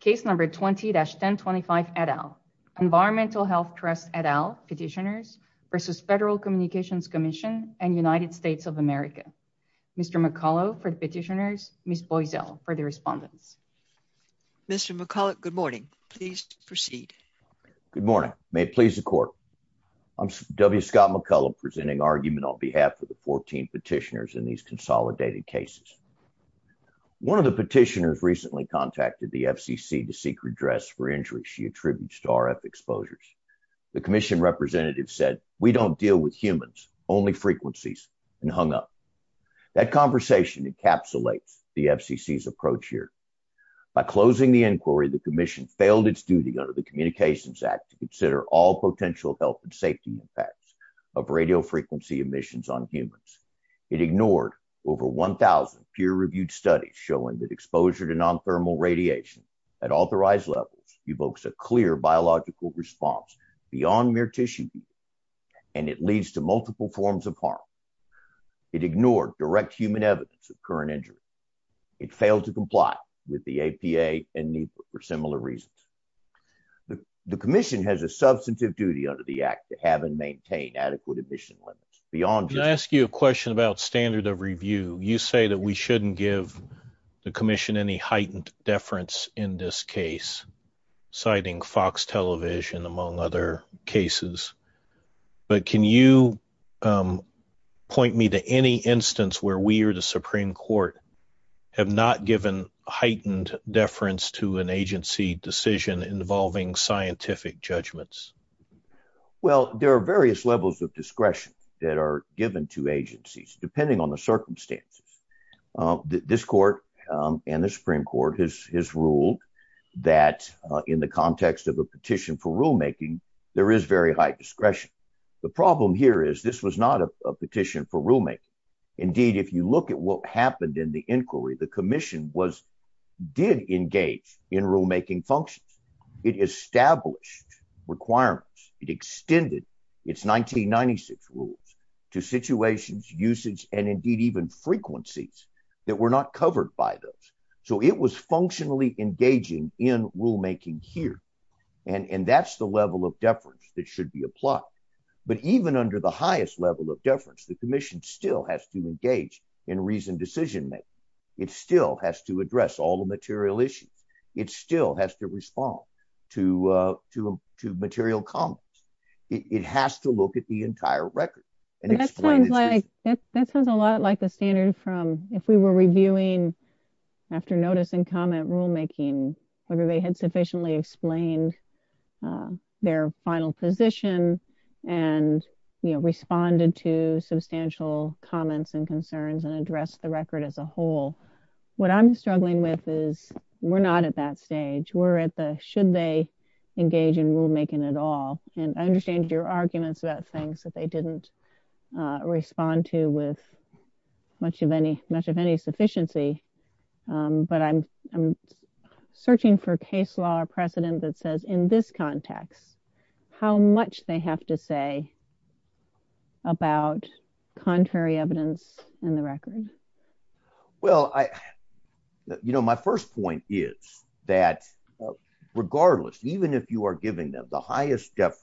Case number 20-1025 et al. Environmental Health Trust et al. Petitioners versus Federal Communications Commission and United States of America. Mr. McCullough for the petitioners, Ms. Boiesel for the respondents. Mr. McCullough, good morning. Please proceed. Good morning. May it please the court. I'm W. Scott McCullough presenting argument on behalf of the 14 petitioners in these consolidated cases. One of the petitioners recently contacted the FCC to seek redress for injuries she attributes to RF exposures. The commission representative said, we don't deal with humans, only frequencies, and hung up. That conversation encapsulates the FCC's approach here. By closing the inquiry, the commission failed its duty under the Communications Act to consider all potential health and safety impacts of radiofrequency emissions on humans. It ignored over 1,000 peer-reviewed studies showing that exposure to non-thermal radiation at authorized levels evokes a clear biological response beyond mere tissue, and it leads to multiple forms of harm. It ignored direct human evidence of current injuries. It failed to comply with the APA and NEPA for similar reasons. The commission has a substantive duty under the Act to have and maintain adequate emission limits. Can I ask you a question about standard of review? You say that we shouldn't give the commission any heightened deference in this case, citing Fox television among other cases, but can you point me to any instance where we or the Supreme Court have not given heightened deference to an agency decision involving scientific judgments? Well, there are various levels of discretion that are given to agencies depending on the circumstances. This court and the Supreme Court has ruled that in the context of a petition for rulemaking, there is very high discretion. The problem here is this was not a petition for rulemaking. Indeed, if you look at what happened in the inquiry, the commission did engage in requirements. It extended its 1996 rules to situations, usage, and indeed even frequencies that were not covered by those. So it was functionally engaging in rulemaking here, and that's the level of deference that should be applied. But even under the highest level of deference, the commission still has to engage in reasoned decision-making. It still has to material comments. It has to look at the entire record. That sounds a lot like the standard from if we were reviewing after notice and comment rulemaking, whether they had sufficiently explained their final position and responded to substantial comments and concerns and addressed the record as a whole. What I'm struggling with is we're not at that stage. We're at the should they engage in rulemaking at all, and I understand your arguments about things that they didn't respond to with much of any sufficiency, but I'm searching for case law precedent that says in this context how much they have to say about contrary evidence in the record. Well, you know, my first point is that regardless, even if you are giving them the highest deference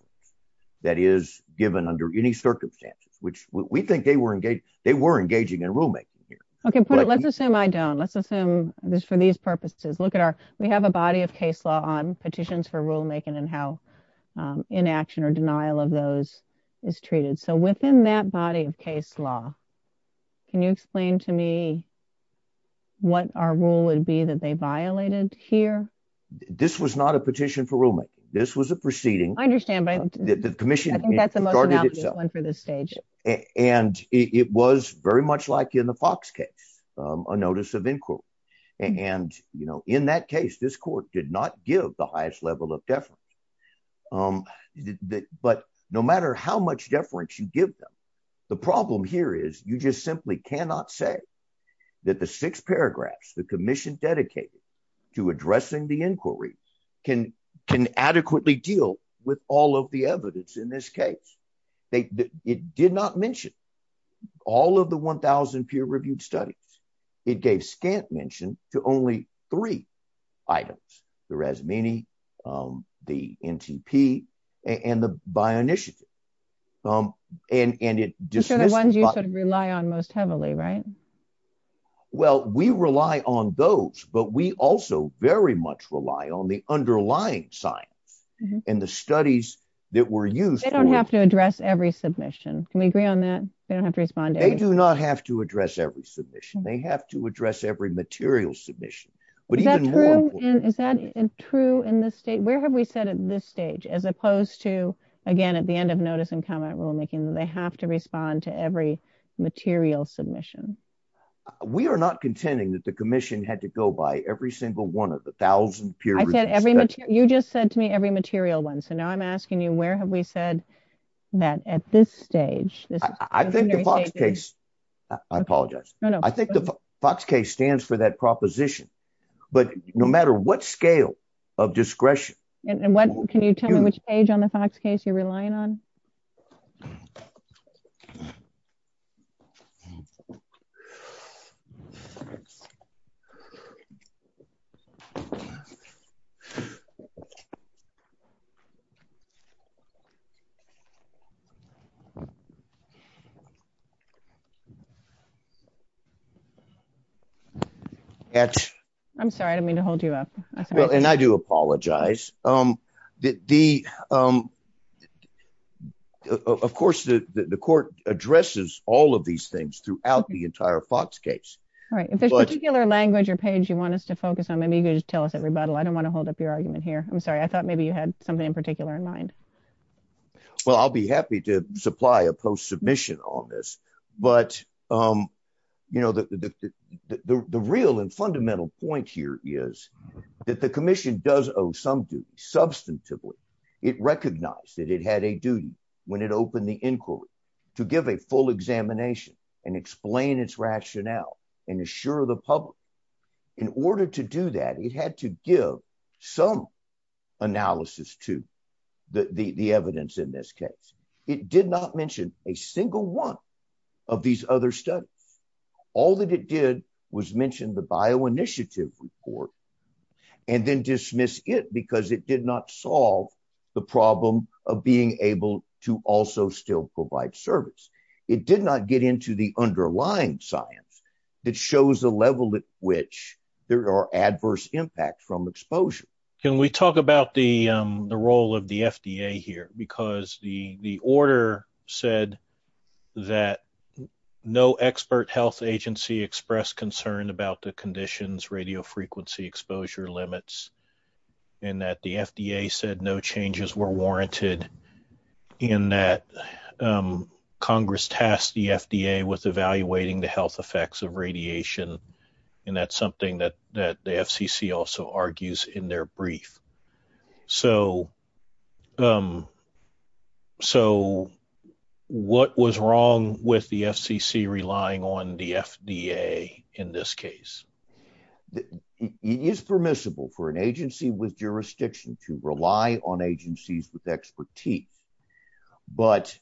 that is given under any circumstances, which we think they were engaging in rulemaking here. Okay, but let's assume I don't. Let's assume this for these purposes. Look at our, we have a body of case law on petitions for rulemaking and how inaction or denial of those is treated. So within that body of case law, can you explain to me what our rule would be that they violated here? This was not a petition for rulemaking. This was a proceeding. I understand by the commission. And it was very much like in the Fox case, a notice of inquiry. And you know, in that case, this court did not give the highest level of deference. But no matter how much deference you give them, the problem here is you just simply cannot say that the six paragraphs the commission dedicated to addressing the inquiry can adequately deal with all of the evidence in this case. It did not mention all of the 1,000 peer-reviewed studies. It gave scant mention to only three items, the Razmini, the NTP, and the Bionitiative. And the ones you sort of rely on most heavily, right? Well, we rely on those, but we also very much rely on the underlying science and the studies that were used. They don't have to address every submission. Can we agree on that? They do not have to address every submission. They have to address every material submission. Is that true in this state? Where have we said at this stage, as opposed to, again, at the end of notice and comment rulemaking, that they have to respond to every material submission? We are not contending that the commission had to go by every single one of the 1,000 peer-reviewed studies. You just said to me every material one. So now I'm asking you, where have we said that at this stage? I think the FOX case, I apologize. I think the FOX case stands for that proposition. But no matter what scale of discretion- And what, can you tell me which page on the FOX case you're relying on? I'm sorry. I didn't mean to hold you up. Well, and I do apologize. Of course, the court addresses all of these things throughout the entire FOX case. Right. If there's a particular language or page you want us to focus on, maybe you can just tell us at rebuttal. I don't want to hold up your argument here. I'm sorry. I thought maybe you had something in particular in mind. Well, I'll be happy to supply a post-submission on this. But the real and fundamental point here is that the commission does owe some duty, substantively. It recognized that it had a duty when it opened the inquiry to give a full examination and explain its rationale and assure the public. In order to do that, it had to give some analysis to the evidence in this case. It did not mention a single one of these other studies. All that it did was mention the bioinitiative report and then dismiss it because it did not solve the problem of being able to also still which there are adverse impacts from exposure. Can we talk about the role of the FDA here? Because the order said that no expert health agency expressed concern about the conditions, radio frequency exposure limits, and that the FDA said no changes were warranted, and that is something that the FCC also argues in their brief. So, what was wrong with the FCC relying on the FDA in this case? It is permissible for an agency with jurisdiction to rely on agencies with expertise. But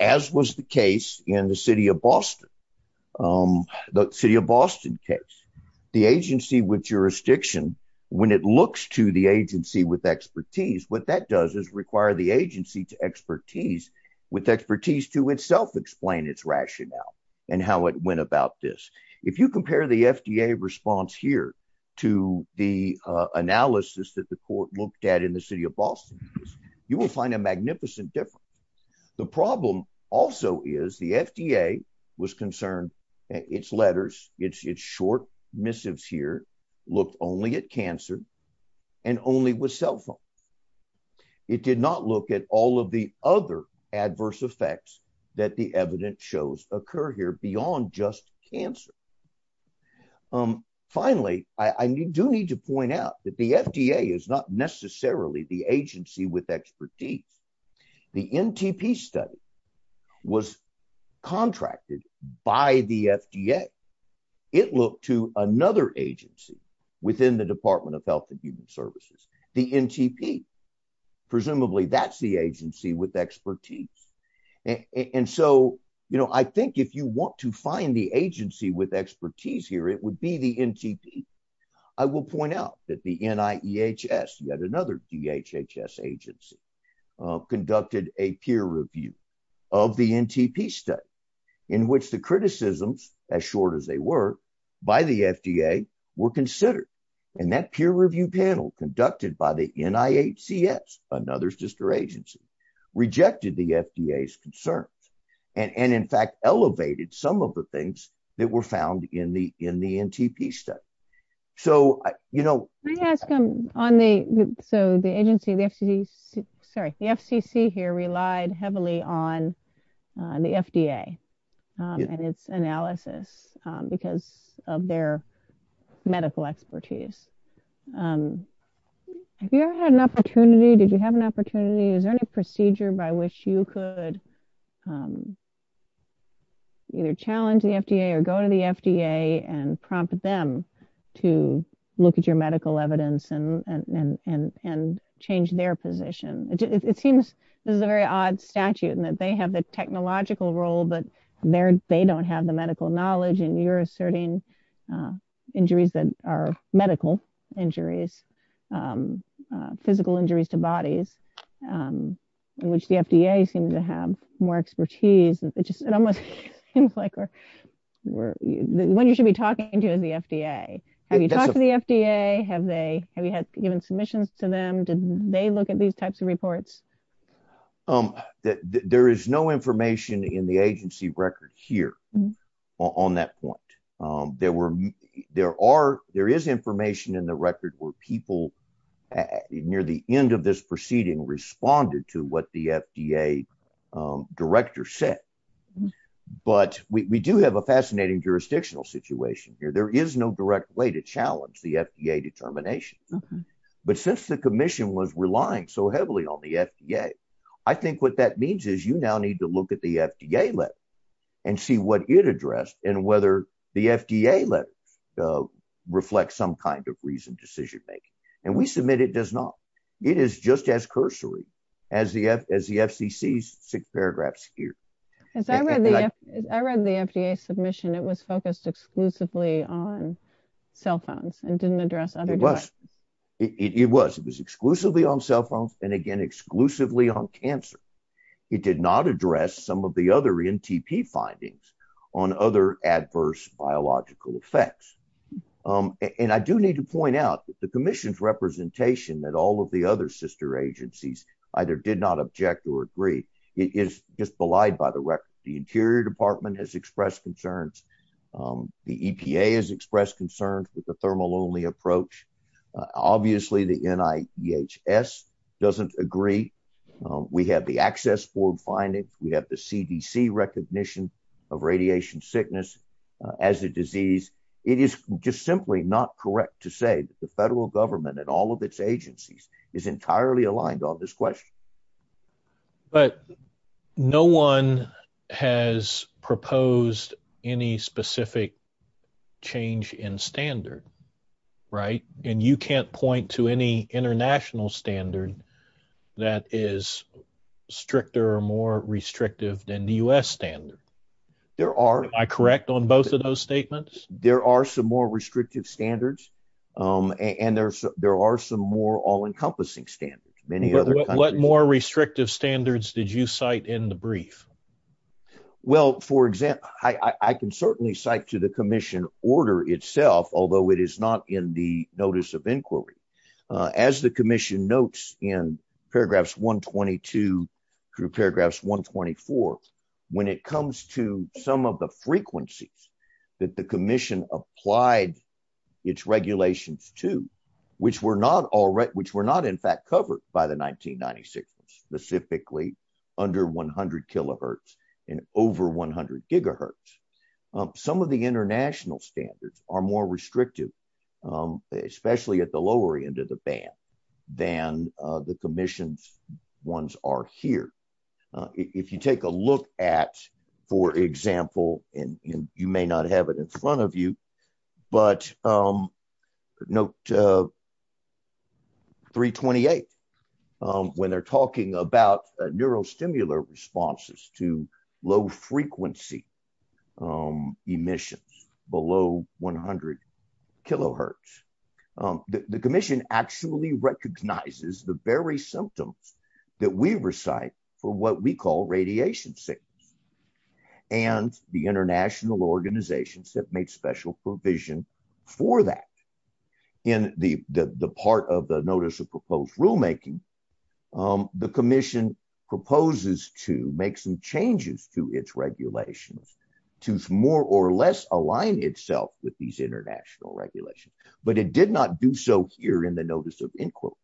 as was the case in the city of Boston, the city of Boston case, the agency with jurisdiction, when it looks to the agency with expertise, what that does is require the agency to expertise with expertise to itself explain its rationale and how it went about this. If you will find a magnificent difference. The problem also is the FDA was concerned, its letters, its short missives here looked only at cancer and only with cell phones. It did not look at all of the other adverse effects that the evidence shows occur here beyond just cancer. Finally, I do need to point out that the FDA is not necessarily the agency with expertise. The NTP study was contracted by the FDA. It looked to another agency within the Department of Health and Human Services, the NTP. Presumably, that is the agency with expertise. And so, I think if you want to find the agency with expertise here, it would be the NTP. I will point out that the NIEHS, yet another DHHS agency, conducted a peer review of the NTP study in which the criticisms, as short as they were, by the FDA were considered. And that peer review conducted by the NIHCS, another sister agency, rejected the FDA's concerns and, in fact, elevated some of the things that were found in the NTP study. So, you know- Can I ask on the, so the agency, the FCC, sorry, the FCC here relied heavily on the FDA and its analysis because of their medical expertise. Have you ever had an opportunity, did you have an opportunity, is there any procedure by which you could either challenge the FDA or go to the FDA and prompt them to look at your medical evidence and change their position? It seems this is a very odd statute in that they have the technological role, but they don't have the medical knowledge, and you're asserting injuries that are medical injuries, physical injuries to bodies, in which the FDA seems to have more expertise. It just, it almost seems like we're, the one you should be talking to is the FDA. Have you talked to FDA? Have they, have you had given submissions to them? Did they look at these types of reports? There is no information in the agency record here on that point. There were, there are, there is information in the record where people near the end of this proceeding responded to what the FDA director said. But we do have a fascinating jurisdictional situation here. There is no direct way to challenge the FDA determination. But since the commission was relying so heavily on the FDA, I think what that means is you now need to look at the FDA letter and see what it addressed and whether the FDA letter reflects some kind of reasoned decision making. And we submit it does not. It is just as cursory as the FCC's six paragraphs here. As I read the, I read the FDA submission. It was focused exclusively on cell phones and didn't address other. It was, it was, it was exclusively on cell phones and again, exclusively on cancer. It did not address some of the other NTP findings on other adverse biological effects. And I do need to point out that the commission's representation that all of the other sister agencies either did not object or agree. It is just belied by the record. The interior department has expressed concerns. The EPA has expressed concerns with the thermal only approach. Obviously the NIHS doesn't agree. We have the access board findings. We have the CDC recognition of radiation sickness as a disease. It is just simply not correct to say that the federal government and all of its agencies is entirely aligned on this question. But no one has proposed any specific change in standard, right? And you can't point to any international standard that is stricter or more restrictive than the U.S. standard. There are. Am I correct on both of those statements? There are some more restrictive standards and there are some more all-encompassing standards. What more restrictive standards did you cite in the brief? Well, for example, I can certainly cite to the commission order itself, although it is not in the notice of inquiry. As the commission notes in paragraphs 122 through paragraphs 124, when it comes to some of the frequencies that the commission applied its regulations to, which were not in fact covered by the 1996 ones, specifically under 100 kilohertz and over 100 gigahertz, some of the international standards are more restrictive, especially at the lower end of the band than the commission's are here. If you take a look at, for example, and you may not have it in front of you, but note 328, when they're talking about neurostimulant responses to low frequency emissions below 100 kilohertz, the commission actually recognizes the very symptoms that we recite for what we call radiation sickness and the international organizations that made special provision for that. In the part of the notice of proposed rulemaking, the commission proposes to make some but it did not do so here in the notice of inquiry.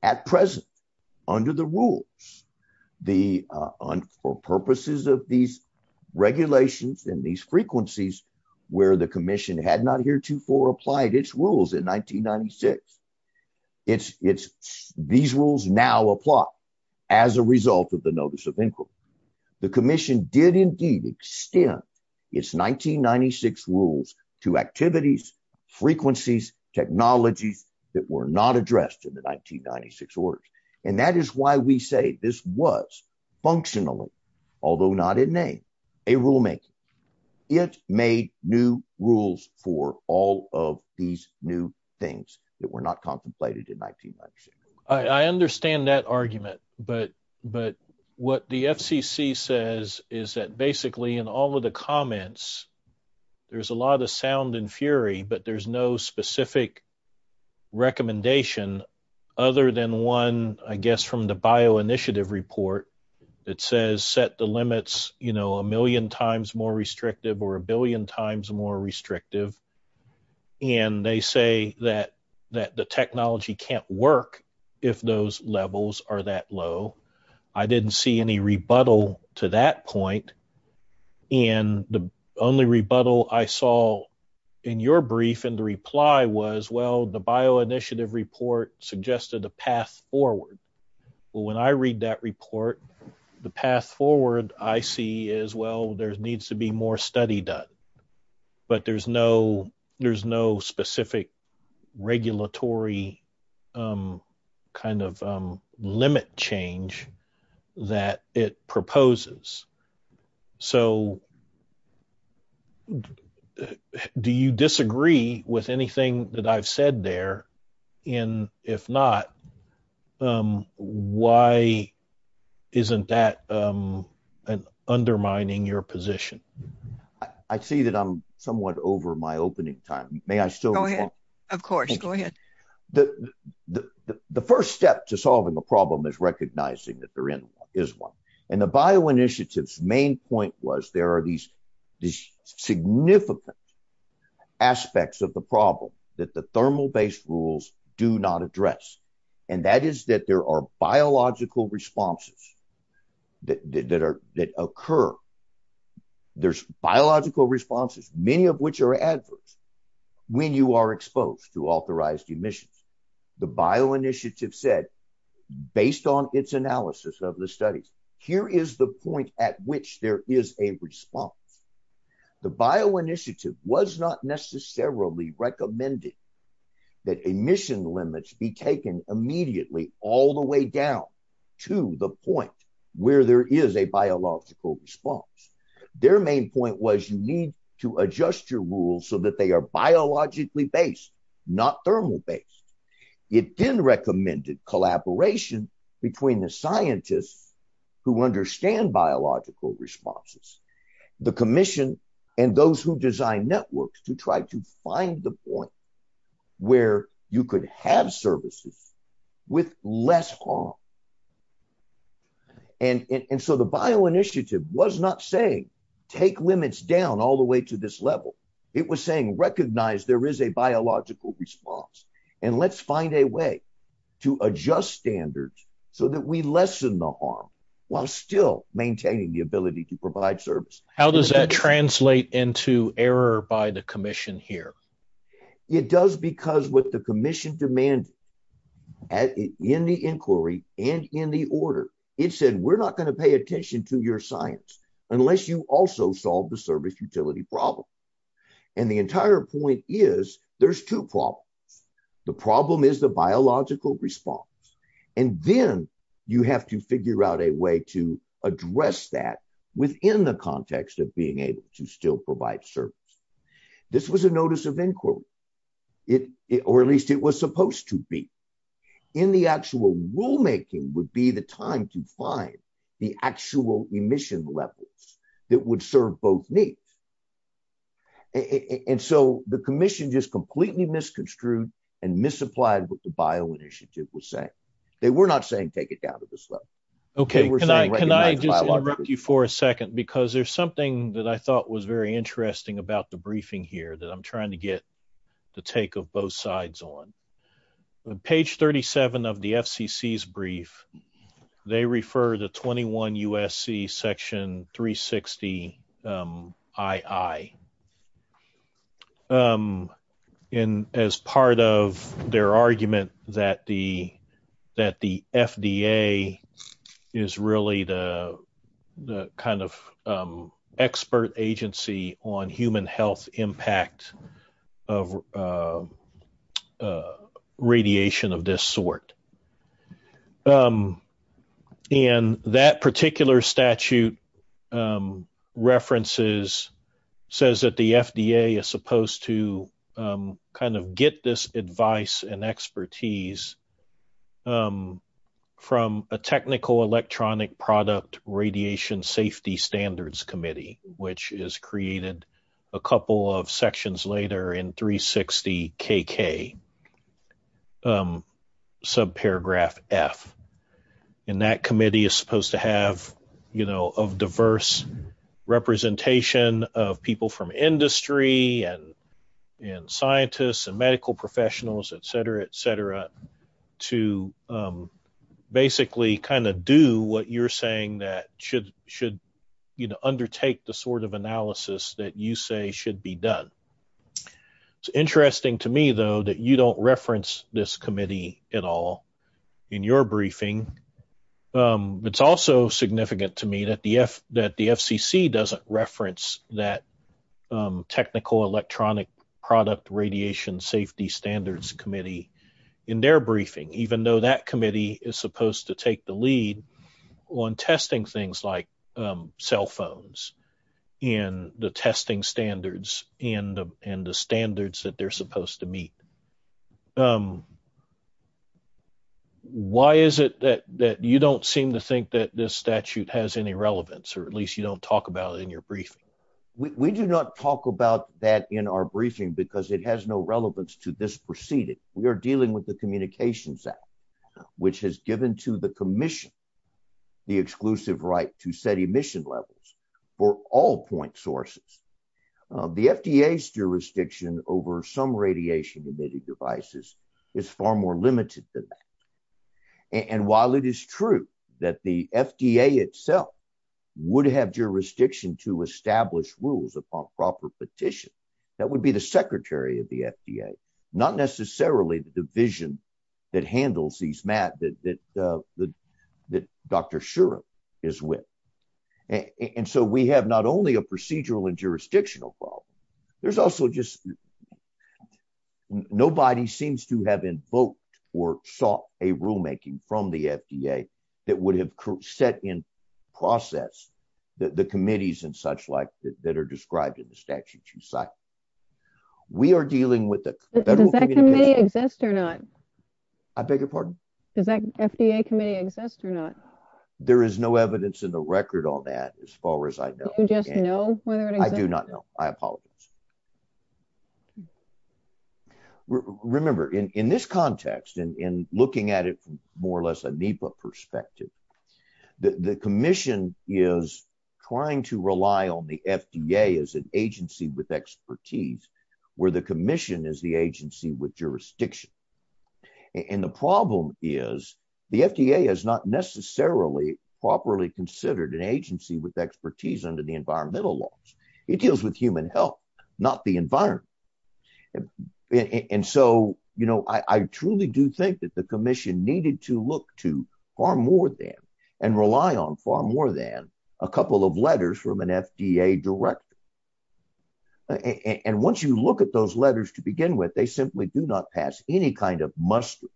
At present, under the rules, the purposes of these regulations and these frequencies where the commission had not heretofore applied its rules in 1996, these rules now apply as a result of the notice of inquiry. The commission did indeed extend its 1996 rules to activities, frequencies, technologies that were not addressed in the 1996 orders. And that is why we say this was functionally, although not in name, a rulemaking. It made new rules for all of these new things that were not contemplated in 1996. I understand that argument, but what the FCC says is that basically in all of the comments, there's a lot of sound and fury, but there's no specific recommendation other than one, I guess, from the bio initiative report that says set the limits, you know, a million times more restrictive or a billion times more restrictive. And they say that the technology can't work if those levels are that low. I didn't see any rebuttal to that point. And the only rebuttal I saw in your brief and the reply was, well, the bio initiative report suggested a path forward. Well, when I read that report, the path forward I see is, well, there needs to be more study done, but there's no specific regulatory kind of limit change that it proposes. So do you disagree with anything that I've said there? And if not, why isn't that an undermining your position? I see that I'm somewhat over my opening time. May I still go ahead? Of course, go ahead. The first step to solving the problem is recognizing that there is one. And the bio initiatives main point was there are these significant aspects of the problem that the thermal-based rules do not address. And that is that there are biological responses that occur. There's biological responses, many of which are adverse when you are exposed to authorized emissions. The bio initiative said, based on its analysis of the studies, here is the point at which there is a response. The bio initiative was not necessarily recommended that emission limits be taken immediately all the way down to the point where there is a biological response. Their main point was you need to adjust your rules so that are biologically based, not thermal based. It then recommended collaboration between the scientists who understand biological responses, the commission, and those who design networks to try to find the point where you could have services with less harm. And so the bio initiative was not saying take limits down all the way to this level. It was saying recognize there is a biological response and let's find a way to adjust standards so that we lessen the harm while still maintaining the ability to provide service. How does that translate into error by the commission here? It does because what the commission demanded in the inquiry and in the order, it said, we're not going to pay attention to your science unless you also solve the service utility problem. And the entire point is there's two problems. The problem is the biological response. And then you have to figure out a way to address that within the context of being able to still provide service. This was a notice of inquiry. Or at least it was supposed to be. In the actual rulemaking would be the time to find the actual emission levels that would serve both needs. And so the commission just completely misconstrued and misapplied what the bio initiative was saying. They were not saying take it down to this level. Okay. Can I interrupt you for a second? Because there's something that I thought was very interesting about the briefing here that I'm brief. They refer to 21 USC section 360 II. And as part of their argument that the FDA is really the kind of expert agency on human health impact of radiation of this sort. And that particular statute references says that the FDA is supposed to kind of get this advice and expertise from a technical electronic product radiation safety standards committee which is created a couple of sections later in 360 KK sub paragraph F. And that committee is supposed to have, you know, of diverse representation of people from industry and scientists and medical professionals, et cetera, et cetera, to basically kind of do what you're saying that should, you know, undertake the sort of analysis that you say should be done. Interesting to me, though, that you don't reference this committee at all in your briefing. It's also significant to me that the FCC doesn't reference that technical electronic product radiation safety standards committee in their briefing, even though that committee is supposed to take the lead on testing things like cell phones and the testing standards and the standards that they're supposed to meet. Why is it that you don't seem to think that this statute has any relevance or at least you don't talk about it in your briefing? We do not talk about that in our briefing because it has no relevance. The FDA's jurisdiction over some radiation-emitted devices is far more limited than that. And while it is true that the FDA itself would have jurisdiction to establish rules upon proper petition, that would be the secretary of the FDA, not necessarily the division that handles these matters that Dr. Shuren is with. And so we have not only a procedural and jurisdictional problem, there's also just nobody seems to have invoked or sought a rulemaking from the FDA that would have set in process the committees and such like that are described in the statute you cite. We are dealing with the... Does that committee exist or not? I beg your pardon? Does that FDA committee exist or not? There is no evidence in the record on that as far as I know. Do you just know whether it exists? I do not know. I apologize. Remember, in this context, and looking at it from more or less a NEPA perspective, the commission is trying to rely on the FDA as an agency with expertise, where the commission is the agency with jurisdiction. And the problem is the FDA is not necessarily properly considered an not the environment. And so, you know, I truly do think that the commission needed to look to far more than and rely on far more than a couple of letters from an FDA director. And once you look at those letters to begin with, they simply do not pass any kind of muster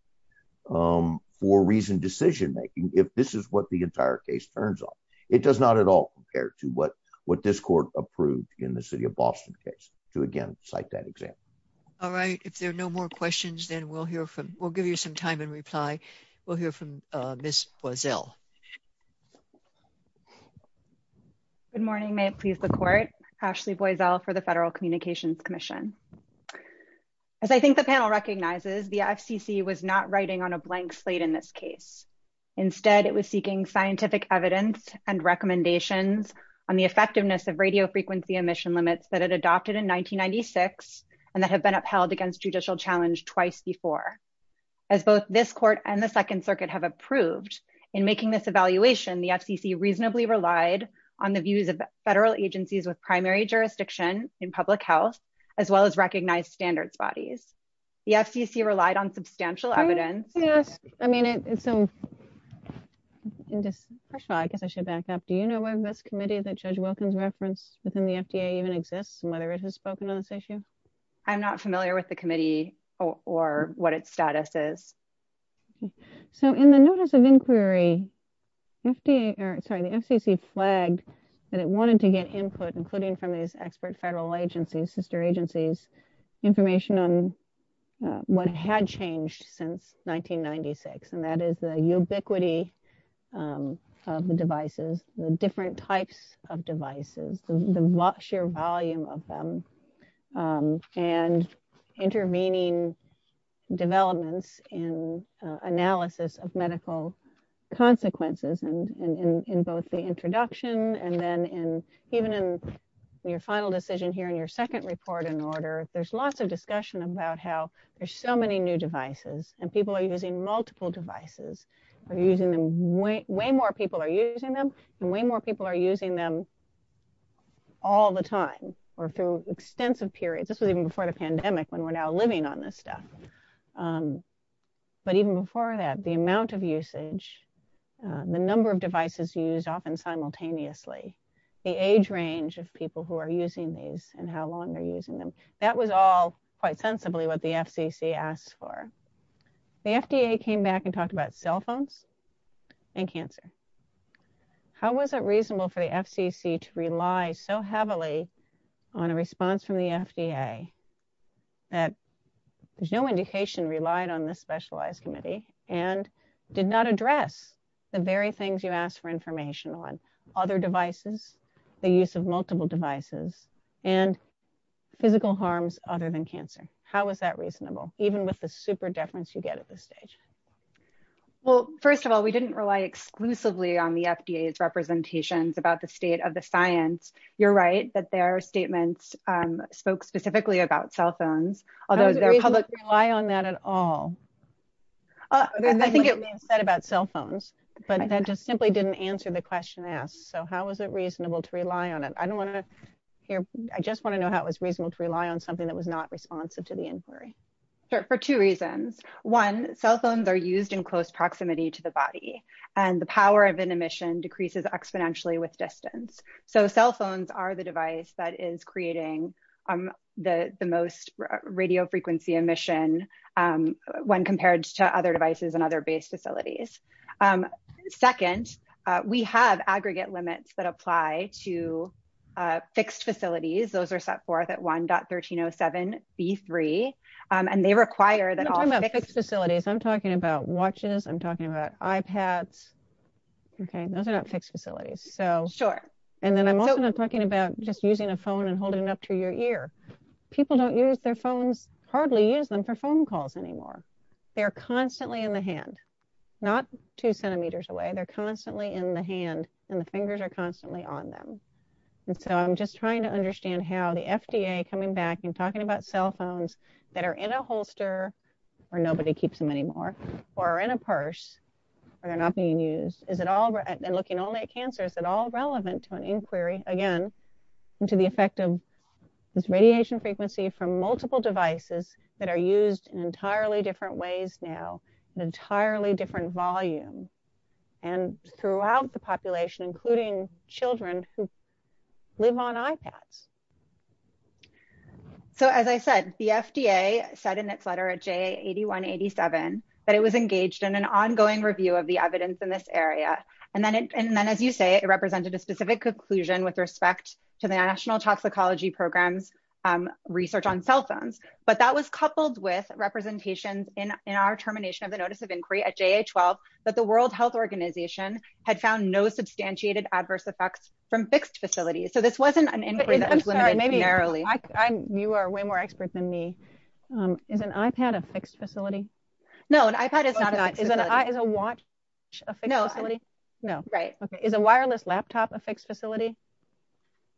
for reason decision making, if this is what the entire case turns on. It does not at all compare to what this court approved in the city of Boston case to again, cite that example. All right. If there are no more questions, then we'll give you some time and reply. We'll hear from Ms. Boiesel. Good morning, may it please the court. Ashley Boiesel for the Federal Communications Commission. As I think the panel recognizes, the FCC was not writing on a blank slate in this case. Instead, it was seeking scientific evidence and recommendations on the effectiveness of radio frequency emission limits that it adopted in 1996, and that have been upheld against judicial challenge twice before. As both this court and the Second Circuit have approved in making this evaluation, the FCC reasonably relied on the views of federal agencies with primary jurisdiction in public health, as well as recognized standards bodies. The FCC relied on substantial evidence. I mean, I guess I should back up. Do you know whether this committee that Judge Wilkins referenced within the FDA even exists and whether it has spoken on this issue? I'm not familiar with the committee or what its status is. So in the notice of inquiry, the FCC flagged that it wanted to get input, including from these expert federal agencies, sister agencies, information on what had changed since 1996, and that is the ubiquity of the devices, the different types of devices, the sheer volume of them, and intervening developments in analysis of medical consequences in both the introduction and then even in your final decision here in your second report in order, there's lots of discussion about how there's so many new devices, and people are using multiple devices. Way more people are using them, and way more people are using them all the time or through extensive periods. This was even before the pandemic when we're now living on this stuff. But even before that, the amount of usage, the number of devices used often simultaneously, the age range of people who are using these and how long they're using them, that was all quite sensibly what the FCC asked for. The FDA came back and talked about cell phones and cancer. How was it reasonable for the FCC to rely so heavily on a response from the FDA that there's no indication relied on this specialized committee and did not address the very things you asked for information on, other devices, the use of multiple devices, and physical harms other than cancer? How was that reasonable, even with the super deference you get at this stage? Well, first of all, we didn't rely exclusively on the FDA's representations about the state of the science. You're right that their I think it was said about cell phones, but that just simply didn't answer the question asked. So how was it reasonable to rely on it? I don't want to hear, I just want to know how it was reasonable to rely on something that was not responsive to the inquiry. Sure, for two reasons. One, cell phones are used in close proximity to the body, and the power of an emission decreases exponentially with distance. So cell phones are the device that is creating the most radio frequency emission when compared to other devices and other base facilities. Second, we have aggregate limits that apply to fixed facilities. Those are set forth at 1.1307b3, and they require that all fixed facilities. I'm talking about watches, I'm talking about iPads. Okay, those are not fixed facilities. Sure. And then I'm also talking about just using a phone and holding it up to your ear. People don't use their phones, hardly use them for phone calls anymore. They're constantly in the hand, not two centimeters away, they're constantly in the hand, and the fingers are constantly on them. And so I'm just trying to understand how the FDA coming back and talking about cell phones that are in a holster, or nobody keeps them anymore, or in a purse, or they're not being used. Is it all right? And looking only at cancer, is it all relevant to inquiry, again, into the effect of this radiation frequency from multiple devices that are used in entirely different ways now, an entirely different volume, and throughout the population, including children who live on iPads. So as I said, the FDA said in its letter at J8187, that it was engaged in an ongoing review of the evidence in this area. And then as you say, it represented a specific conclusion with respect to the National Toxicology Program's research on cell phones. But that was coupled with representations in our termination of the notice of inquiry at J8187, that the World Health Organization had found no substantiated adverse effects from fixed facilities. So this wasn't an inquiry that was limited narrowly. I'm sorry, you are way more expert than me. Is an iPad a fixed facility? No, an iPad is not a fixed facility. Is a watch a fixed facility? No, right. Okay. Is a wireless laptop a fixed facility?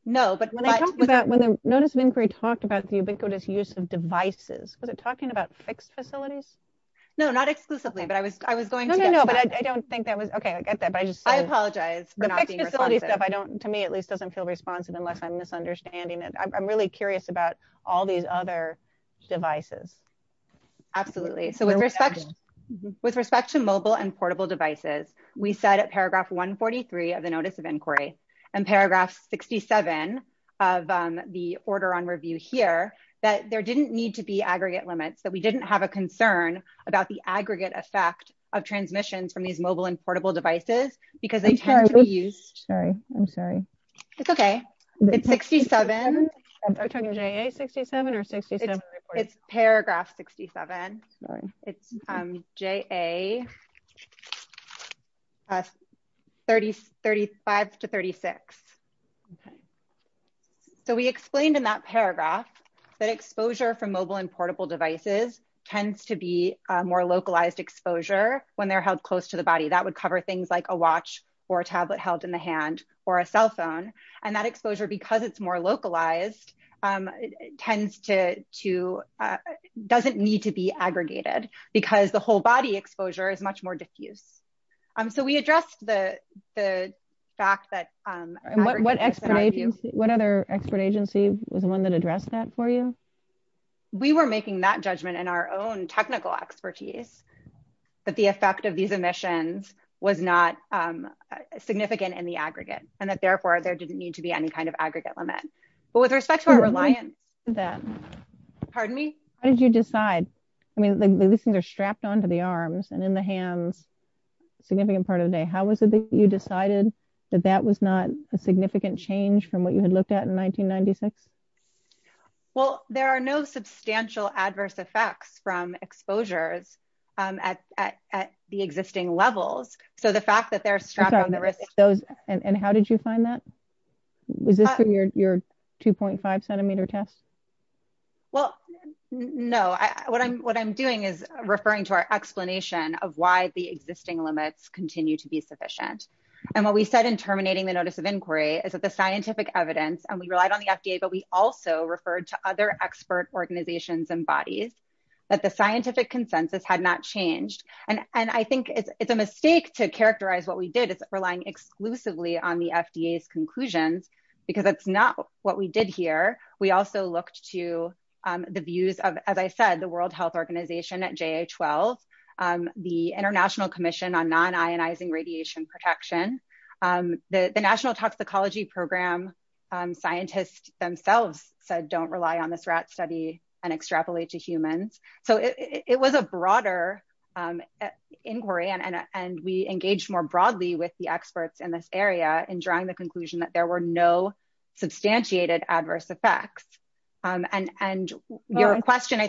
No, but when I talked about when the notice of inquiry talked about the ubiquitous use of devices, was it talking about fixed facilities? No, not exclusively, but I was going to. No, no, no, but I don't think that was, okay, I get that, but I just say. I apologize for not being responsive. The fixed facility stuff, I don't, to me at least, doesn't feel responsive unless I'm misunderstanding it. I'm really curious about all these other devices. Absolutely. So with respect to mobile and portable devices, we said at paragraph 143 of the notice of inquiry and paragraph 67 of the order on review here, that there didn't need to be aggregate limits, that we didn't have a concern about the aggregate effect of transmissions from these mobile and portable devices because they tend to be used. Sorry, I'm sorry. It's okay. It's 67. I'm sorry, are you talking about JA 67 or 67? It's paragraph 67. Sorry. It's JA 35 to 36. Okay. So we explained in that paragraph that exposure from mobile and portable devices tends to be a more localized exposure when they're held close to the body. That would cover things like a watch or a tablet held in the hand or a cell phone, and that exposure, because it's more localized, doesn't need to be aggregated because the whole body exposure is much more diffuse. So we addressed the fact that- What other expert agency was the one that addressed that for you? We were making that judgment in our own technical expertise, that the effect of these emissions was not significant in the aggregate and that therefore there didn't need to be any kind of aggregate limit. But with respect to our reliance that- Pardon me? How did you decide? I mean, these things are strapped onto the arms and in the hands, significant part of the day. How was it that you decided that that was not a significant change from what you had looked at in 1996? Well, there are no substantial adverse effects from exposures at the existing levels. So the fact that they're strapped on the wrist- And how did you find that? Was this through your 2.5 centimeter test? Well, no. What I'm doing is referring to our explanation of why the existing limits continue to be sufficient. And what we said in terminating the notice of inquiry is that the scientific evidence, and we relied on the FDA, but we also referred to other expert organizations and bodies, that the scientific consensus had not changed. And I think it's a mistake to characterize what did as relying exclusively on the FDA's conclusions, because that's not what we did here. We also looked to the views of, as I said, the World Health Organization at JA-12, the International Commission on Non-Ionizing Radiation Protection, the National Toxicology Program scientists themselves said, don't rely on this rat study and extrapolate to humans. So it was a broader inquiry and we engaged more broadly with the experts in this area in drawing the conclusion that there were no substantiated adverse effects. And your question- I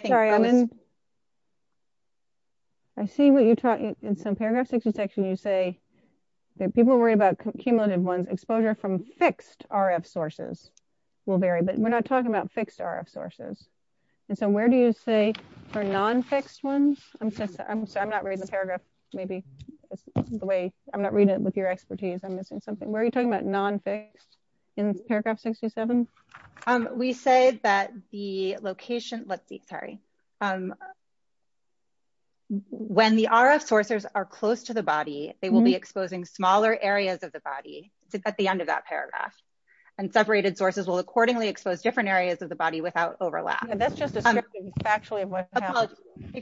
see what you're talking, in some paragraphs section you say that people worry about cumulative ones, exposure from fixed RF sources will vary, but we're not talking about fixed RF sources. And so where do you say for non-fixed ones? I'm sorry, I'm not reading the paragraph, maybe the way, I'm not reading it with your expertise. I'm missing something. Where are you talking about non-fixed in paragraph 67? We say that the location, let's see, sorry. When the RF sources are close to the body, they will be exposing smaller areas of the body at the end of that paragraph. And separated sources will accordingly expose different areas of the body without overlap. If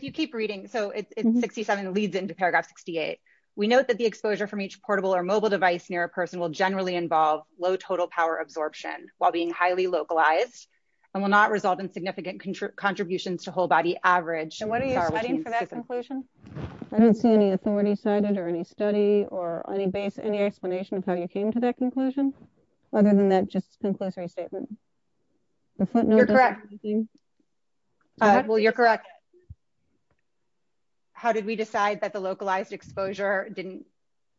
you keep reading, so 67 leads into paragraph 68. We note that the exposure from each portable or mobile device near a person will generally involve low total power absorption while being highly localized and will not result in significant contributions to whole body average. And what are you citing for that conclusion? I don't see any authority cited or any study or any base, any explanation of how you came to that conclusion other than that just conclusory statement. You're correct. Well, you're correct. How did we decide that the localized exposure didn't,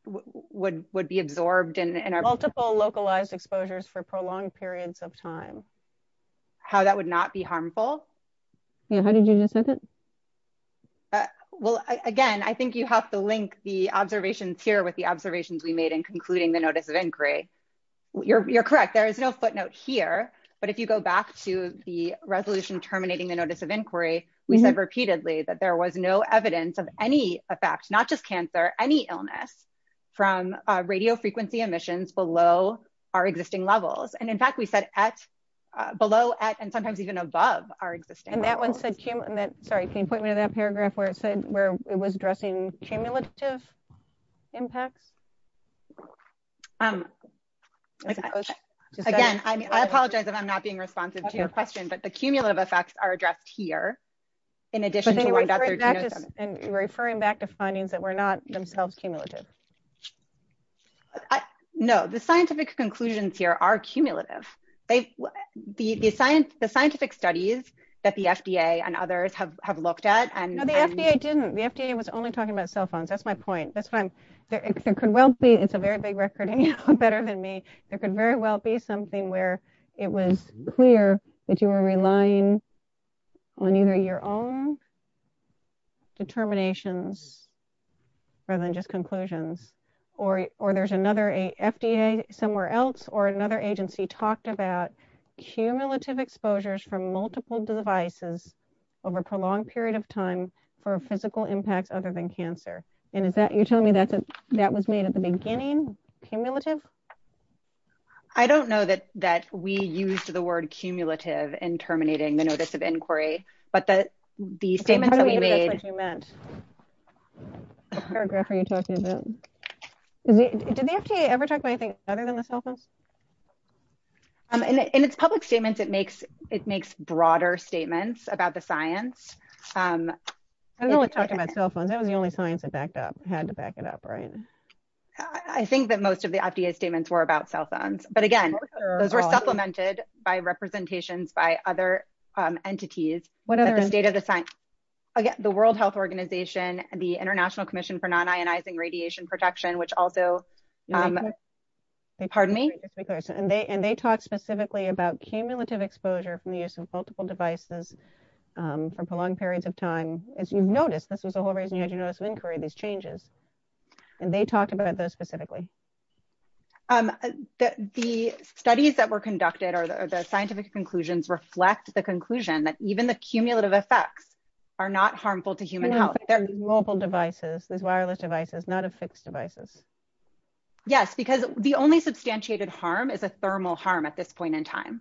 would be absorbed in our multiple localized exposures for prolonged periods of time? How that would not be harmful? Yeah, how did you decide that? Well, again, I think you have to link the observations here with the observations we You're correct. There is no footnote here, but if you go back to the resolution terminating the notice of inquiry, we said repeatedly that there was no evidence of any effect, not just cancer, any illness from radio frequency emissions below our existing levels. And in fact, we said at, below at, and sometimes even above our existing. And that one said, sorry, can you point me to that paragraph where it said, where it was addressing cumulative impacts? Okay. Again, I apologize if I'm not being responsive to your question, but the cumulative effects are addressed here. In addition to referring back to findings that were not themselves cumulative. No, the scientific conclusions here are cumulative. They, the science, the scientific studies that the FDA and others have, have looked at. And the FDA didn't, the FDA was only talking about cell phones. That's my point. That's fine. There could well be, it's a very big record, better than me. There could very well be something where it was clear that you were relying on either your own determinations rather than just conclusions or, or there's another, a FDA somewhere else or another agency talked about cumulative exposures from multiple devices over a prolonged period of time for physical impacts other than that was made at the beginning. Cumulative. I don't know that, that we used the word cumulative in terminating the notice of inquiry, but the, the statements that we made meant paragraph. Are you talking about, did the FDA ever talk about anything other than the cell phones? Um, and it's public statements. It makes, it makes broader statements about the science. Um, I don't know what you're talking about cell phones. That was the only science that backed up, had to back it up. Right. I think that most of the FDA statements were about cell phones, but again, those were supplemented by representations by other, um, entities, what are the state of the science? Again, the world health organization, the international commission for non-ionizing radiation protection, which also, um, pardon me. And they, and they talk specifically about cumulative exposure from the use of multiple devices, um, for prolonged periods of time, as you've noticed, this was the whole reason you had these changes and they talked about those specifically. Um, the studies that were conducted or the scientific conclusions reflect the conclusion that even the cumulative effects are not harmful to human health. They're mobile devices. There's wireless devices, not a fixed devices. Yes, because the only substantiated harm is a thermal harm at this point in time.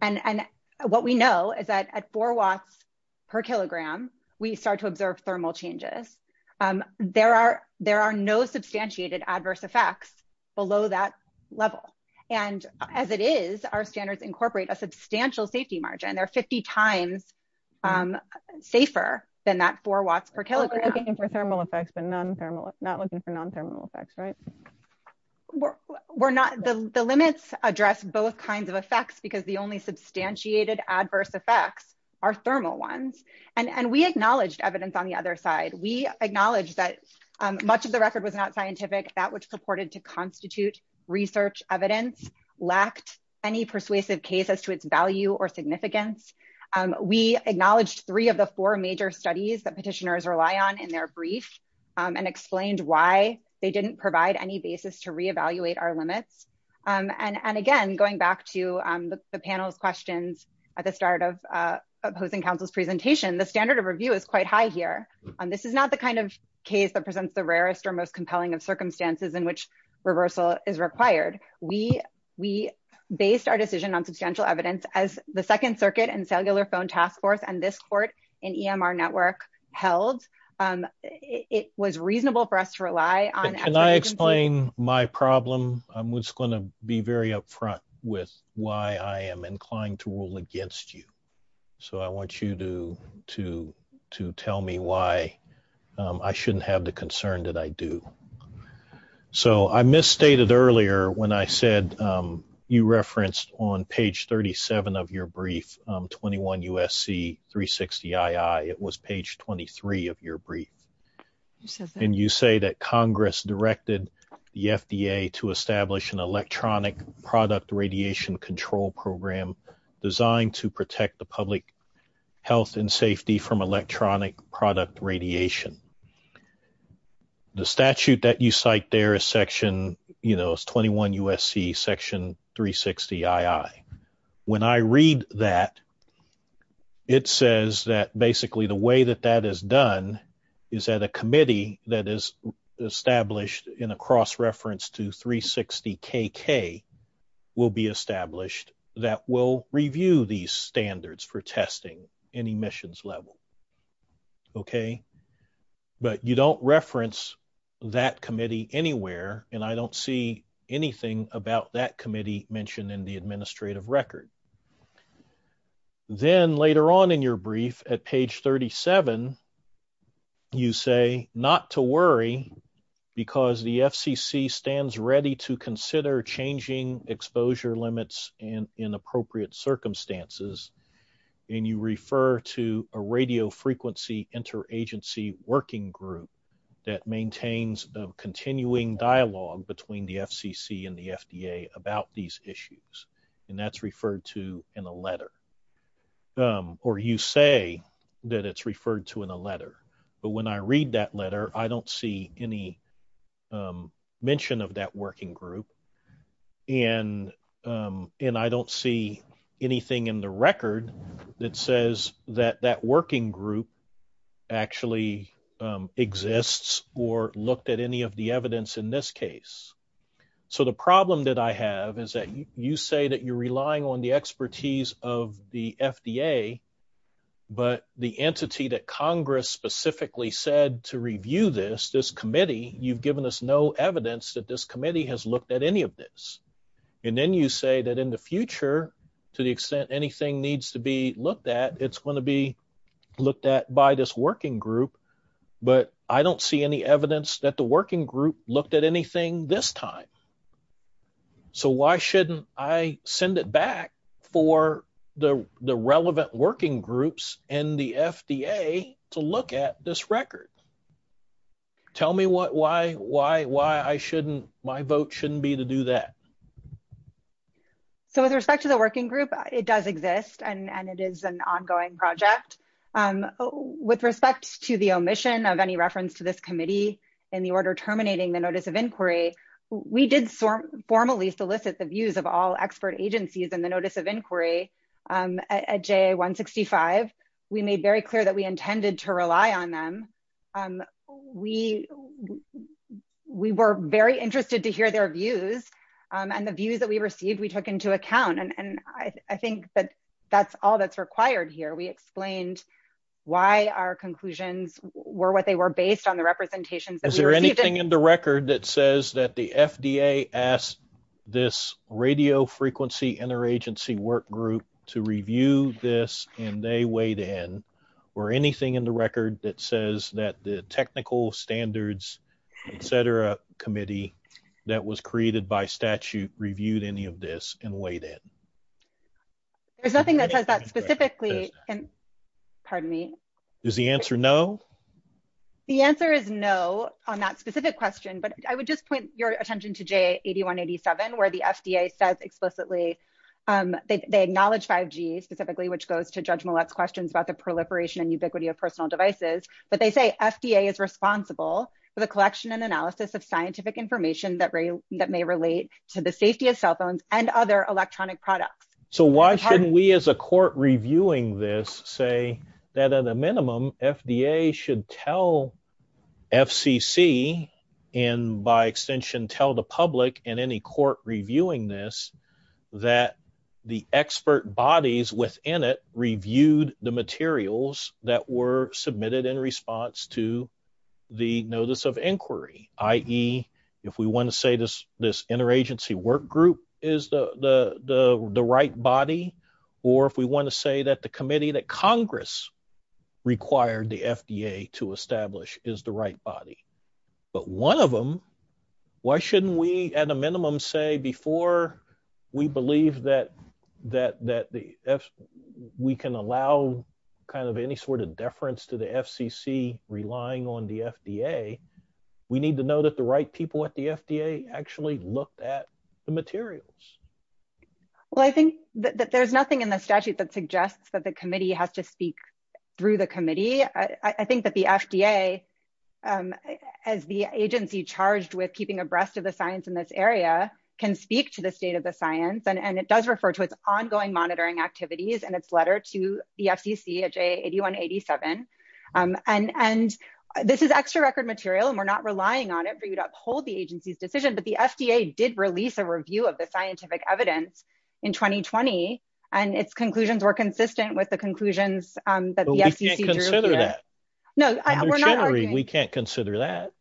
And, and what we know is that at four Watts per kilogram, we start to observe changes. Um, there are, there are no substantiated adverse effects below that level. And as it is, our standards incorporate a substantial safety margin. There are 50 times, um, safer than that four Watts per kilogram for thermal effects, but non-thermal not looking for non-thermal effects. Right. We're not, the limits address both kinds of effects because the only substantiated adverse effects are thermal ones. And, and we acknowledged evidence on the other side. We acknowledge that much of the record was not scientific that which supported to constitute research evidence lacked any persuasive cases to its value or significance. Um, we acknowledged three of the four major studies that petitioners rely on in their brief, um, and explained why they didn't provide any basis to reevaluate our limits. Um, and, and again, going back to, um, the panel's questions at the start of, uh, opposing council's presentation, the standard of review is quite high here. Um, this is not the kind of case that presents the rarest or most compelling of circumstances in which reversal is required. We, we based our decision on substantial evidence as the second circuit and cellular phone task force and this court in EMR network held, um, it was reasonable for us to rely on. Can I explain my problem? I'm just going to be very upfront with why I am inclined to rule against you. So I want you to, to, to tell me why, um, I shouldn't have the concern that I do. So I misstated earlier when I said, um, you referenced on page 37 of your brief, um, 21 USC three 60 I I it was page 23 of your brief. And you say that Congress directed the FDA to establish an electronic product radiation control program designed to protect the public health and safety from electronic product radiation. The statute that you cite there is section, you know, it's 21 USC section three 60 I I when I read that, it says that cross-reference to three 60 K K will be established that will review these standards for testing any missions level. Okay. But you don't reference that committee anywhere. And I don't see anything about that committee mentioned in the administrative record. Okay. Then later on in your brief at page 37, you say not to worry because the FCC stands ready to consider changing exposure limits and inappropriate circumstances. And you refer to a radio frequency interagency working group that maintains the continuing dialogue between the FCC and the in a letter. Um, or you say that it's referred to in a letter, but when I read that letter, I don't see any, um, mention of that working group. And, um, and I don't see anything in the record that says that that working group actually, um, exists or looked at any of the evidence in this case. So the problem that I have is that you say that you're relying on the expertise of the FDA, but the entity that Congress specifically said to review this, this committee, you've given us no evidence that this committee has looked at any of this. And then you say that in the future, to the extent, anything needs to be looked at, it's going to be looked at by this working group, but I don't see any evidence that the working group looked at anything this time. So why shouldn't I send it back for the, the relevant working groups and the FDA to look at this record? Tell me what, why, why, why I shouldn't, my vote shouldn't be to do that. So with respect to the working group, it does exist and it is an ongoing project. Um, with respect to the omission of any reference to this committee in the order terminating the notice of inquiry, we did formally solicit the views of all expert agencies in the notice of inquiry, um, at J 165, we made very clear that we intended to rely on them. Um, we, we were very interested to hear their views, um, and the views that we received, we took into account. And I think that that's all that's required here. We explained why our conclusions were what they were based on the representations. Is there anything in the record that says that the FDA asked this radio frequency interagency work group to review this and they weighed in or anything in the record that says that the technical standards, et cetera, committee that was created by statute reviewed any of this and weighed it. There's nothing that says that specifically. And pardon me, is the answer. No, the answer is no on that specific question, but I would just point your attention to J 81 87, where the FDA says explicitly, um, they, they acknowledge five G specifically, which goes to judge Millette's questions about the proliferation and ubiquity of personal devices. But they say FDA is responsible for the collection and analysis of scientific information that ray that may relate to the safety of cell phones and other electronic products. So why shouldn't we, as a court reviewing this say that at a minimum FDA should tell FCC and by extension, tell the public and any court reviewing this, that the expert bodies within it that were submitted in response to the notice of inquiry, i.e. if we want to say this, this interagency work group is the, the, the, the right body, or if we want to say that the committee that Congress required the FDA to establish is the right body, but one of them, why shouldn't we at a minimum say before we believe that, that, that the F we can allow kind of any sort of deference to the FCC relying on the FDA, we need to know that the right people at the FDA actually looked at the materials. Well, I think that there's nothing in the statute that suggests that the committee has to speak through the committee. I think that the FDA, um, as the agency charged with keeping abreast of the science in this area can speak to the state of the science. And it does refer to its ongoing monitoring activities and its letter to the FCC at J 81 87. Um, and, and this is extra record material and we're not relying on it for you to uphold the agency's decision, but the FDA did release a review of the scientific evidence in 2020 and its conclusions were consistent with the conclusions that the FCC drew. No, we can't consider that.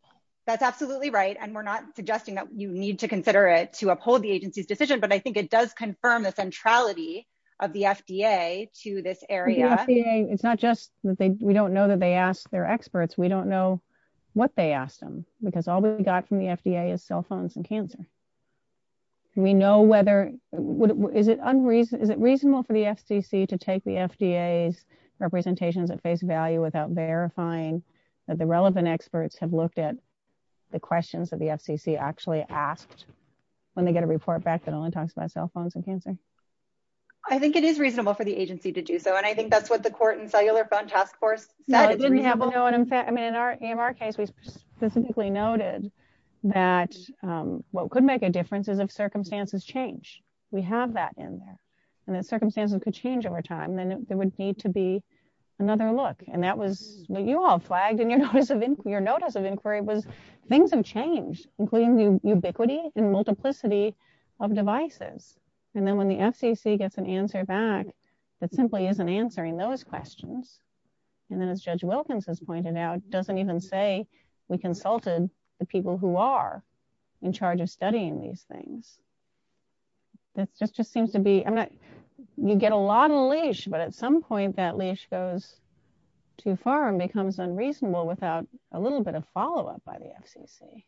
That's absolutely right. And we're not suggesting that you need to consider it to uphold the agency's decision, but I think it does confirm the centrality of the FDA to this area. It's not just that they, we don't know that they ask their experts. We don't know what they asked them because all we got from the FDA is cell phones and cancer. And we know whether, is it unreasonable for the FCC to take the FDA's representations at face value without verifying that the relevant experts have looked at the questions that the FCC actually asked when they get a report back that only talks about cell cancer. I think it is reasonable for the agency to do so. And I think that's what the court and cellular phone task force said. I mean, in our case, we specifically noted that, um, what could make a difference is if circumstances change, we have that in there and that circumstances could change over time, then there would need to be another look. And that was what you all flagged in your notice of inquiry. Your notice of inquiry was things have changed, including the ubiquity and multiplicity of devices. And then when the FCC gets an answer back, that simply isn't answering those questions. And then as judge Wilkins has pointed out, doesn't even say we consulted the people who are in charge of studying these things. That's just, just seems to be, I'm not, you get a lot of leash, but at some point that leash goes too far and becomes unreasonable without a little bit of follow-up by the FCC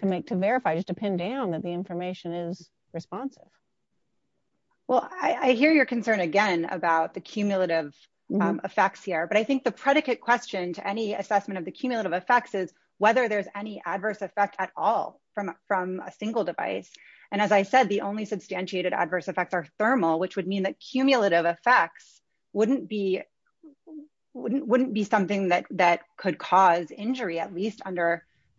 to make, to verify, just to pin down that the information is responsive. Well, I hear your concern again about the cumulative effects here, but I think the predicate question to any assessment of the cumulative effects is whether there's any adverse effect at all from, from a single device. And as I said, the only substantiated adverse effects are thermal, which would mean that cumulative effects wouldn't be, wouldn't,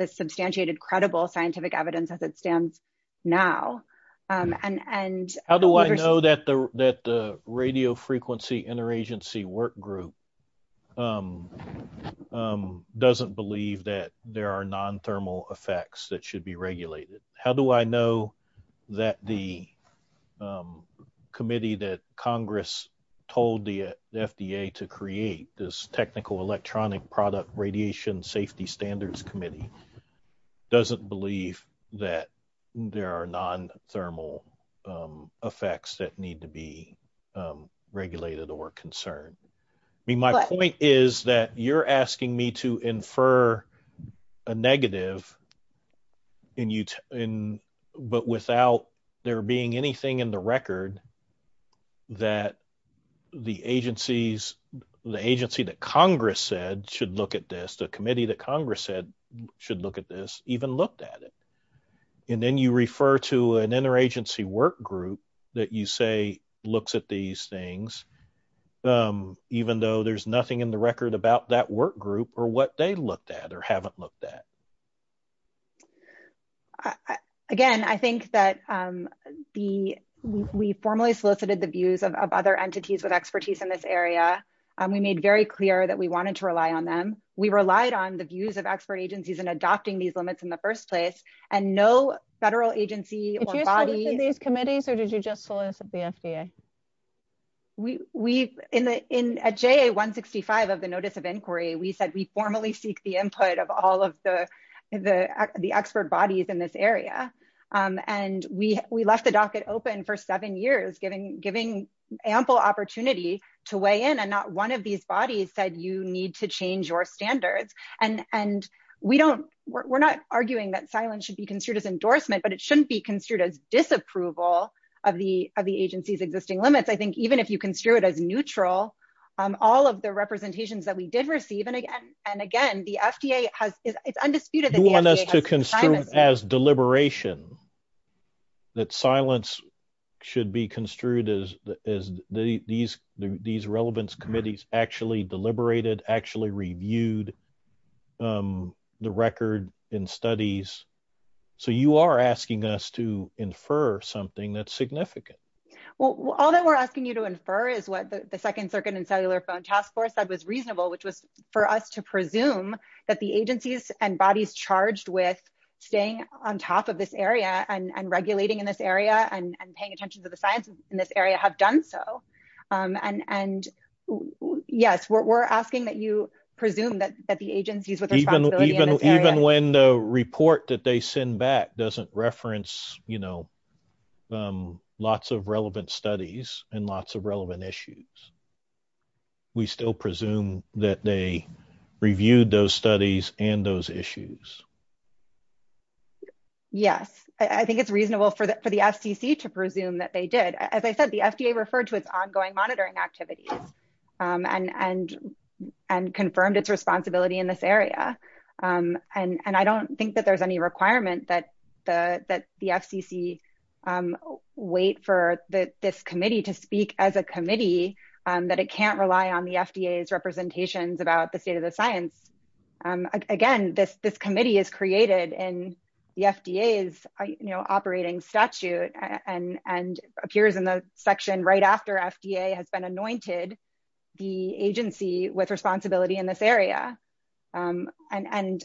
substantiated credible scientific evidence as it stands now. And, and how do I know that the, that the radio frequency interagency work group doesn't believe that there are non-thermal effects that should be regulated? How do I know that the committee that Congress told the FDA to create this technical electronic product radiation safety standards committee doesn't believe that there are non-thermal effects that need to be regulated or concerned? I mean, my point is that you're asking me to infer a negative and you, but without there being anything in the record that the agencies, the agency that committee that Congress said should look at this even looked at it. And then you refer to an interagency work group that you say looks at these things, even though there's nothing in the record about that work group or what they looked at or haven't looked at. Again, I think that the, we formally solicited the views of other entities with expertise in this area. We made very clear that we wanted to rely on them. We relied on the views of expert agencies and adopting these limits in the first place and no federal agency or body. Did you solicit these committees or did you just solicit the FDA? We, we, in the, in, at JA 165 of the notice of inquiry, we said, we formally seek the input of all of the, the, the expert bodies in this area. And we, we left the docket open for seven years, giving ample opportunity to weigh in. And not one of these bodies said, you need to change your standards. And, and we don't, we're not arguing that silence should be construed as endorsement, but it shouldn't be construed as disapproval of the, of the agency's existing limits. I think even if you construe it as neutral, all of the representations that we did receive. And again, and again, the FDA has, it's undisputed. You want us to construe it as deliberation, that silence should be construed as, as the, these, these relevance committees actually deliberated, actually reviewed the record in studies. So you are asking us to infer something that's significant. Well, all that we're asking you to infer is what the second circuit and cellular phone task force was reasonable, which was for us to presume that the agencies and bodies charged with staying on top of this area and regulating in this area and paying attention to the science in this area have done so. And, and yes, we're, we're asking that you presume that, that the agencies with responsibility in this area. Even when the report that they send back doesn't reference, you know, lots of relevant studies and lots of relevant issues, we still presume that they reviewed those studies and those issues. Yes. I think it's reasonable for the, for the FCC to presume that they did. As I said, the FDA referred to its ongoing monitoring activities and, and, and confirmed its responsibility in this area. And, and I don't think that there's any requirement that the, that the FCC wait for the, this committee to speak as a committee that it can't rely on the FDA's representations about the state of the science. Again, this, this committee is created and the FDA is, you know, operating statute and, and appears in the section right after FDA has been anointed the agency with responsibility in this area. And, and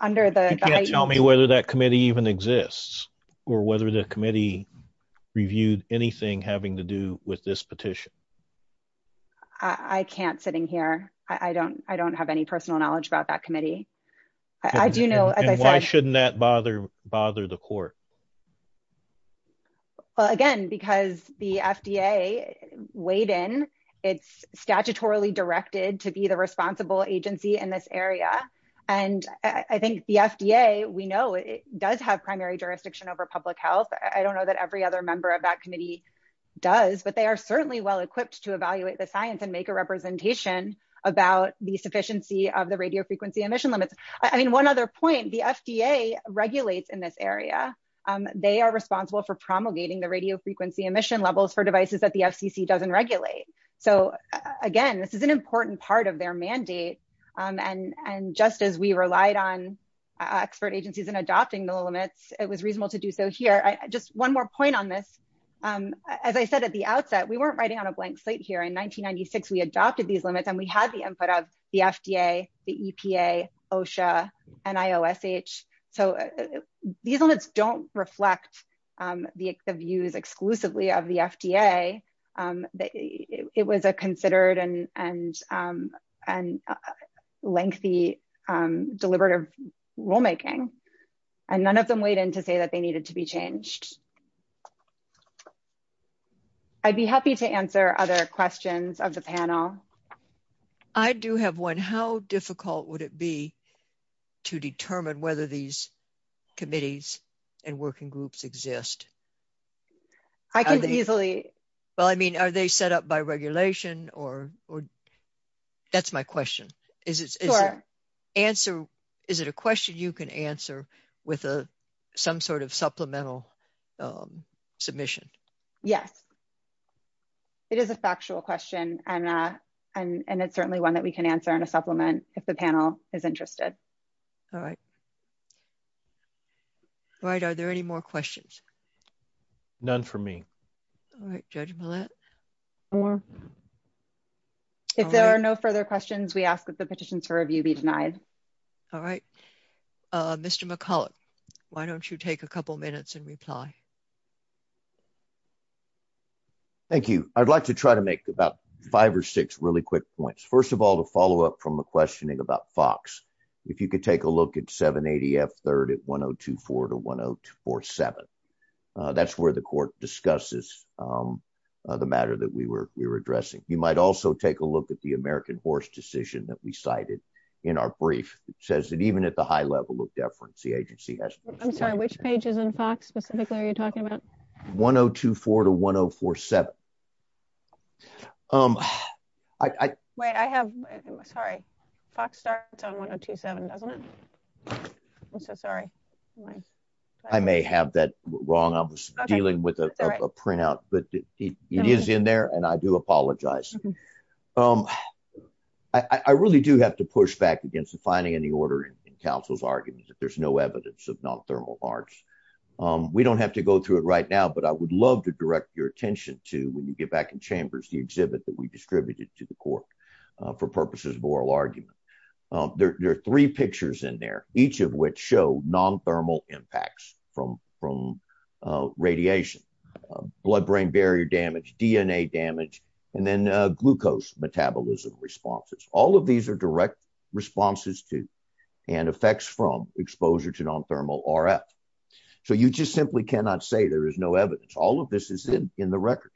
under the, Tell me whether that committee even exists or whether the committee reviewed anything having to do with this petition. I can't sitting here. I don't, I don't have any personal knowledge about that committee. I do know, as I said, shouldn't that bother bother the court? Well, again, because the FDA weighed in it's statutorily directed to be the responsible agency in this area. And I think the FDA, we know it does have primary jurisdiction over public health. I don't know that every other member of that committee does, but they are certainly well-equipped to evaluate the science and make a representation about the sufficiency of the radio frequency emission limits. I mean, one other point, the FDA regulates in this area. They are responsible for promulgating the radio frequency emission levels for devices that the And, and just as we relied on expert agencies and adopting the limits, it was reasonable to do so here. I just, one more point on this. As I said, at the outset, we weren't writing on a blank slate here in 1996, we adopted these limits and we had the input of the FDA, the EPA, OSHA and IOSH. So these limits don't reflect the views exclusively of the FDA. That it was a considered and, and, and lengthy deliberative rulemaking. And none of them weighed in to say that they needed to be changed. I'd be happy to answer other questions of the panel. I do have one. How difficult would it be to determine whether these committees and working groups exist? I can easily. Well, I mean, are they set up by regulation or, or that's my question. Is it, is it answer, is it a question you can answer with a, some sort of supplemental submission? Yes. It is a factual question. And, and it's certainly one that we can answer in a supplement if the panel is interested. All right. All right. Are there any more questions? None for me. All right. Judge. If there are no further questions, we ask that the petitions for review be denied. All right. Mr. McCullough, why don't you take a couple minutes and reply? Thank you. I'd like to try to make about five or six really quick points. First of all, to follow up from the questioning about Fox, if you could take a look at 780 F third at 1024 to 1047. That's where the court discusses the matter that we were, we were addressing. You might also take a look at the American horse decision that we cited in our brief says that even at the high level of deference, the agency has, I'm sorry, which pages in Fox specifically are you talking about? 1024 to 1047. Wait, I have, sorry. Fox starts on 1027, doesn't it? I'm so sorry. I may have that wrong. I was dealing with a printout, but it is in there and I do apologize. I really do have to push back against the finding in the order in counsel's argument that there's no evidence of non-thermal arts. We don't have to go through it right now, but I would love to direct your attention to when you get back in chambers, the exhibit that we distributed to the court for purposes of oral argument. There are three pictures in there, each of which show non-thermal impacts from radiation, blood-brain barrier damage, DNA damage, and then glucose metabolism responses. All of these are direct responses to and effects from exposure to non-thermal RF. So you just simply cannot say there is no evidence. All of this is in the record.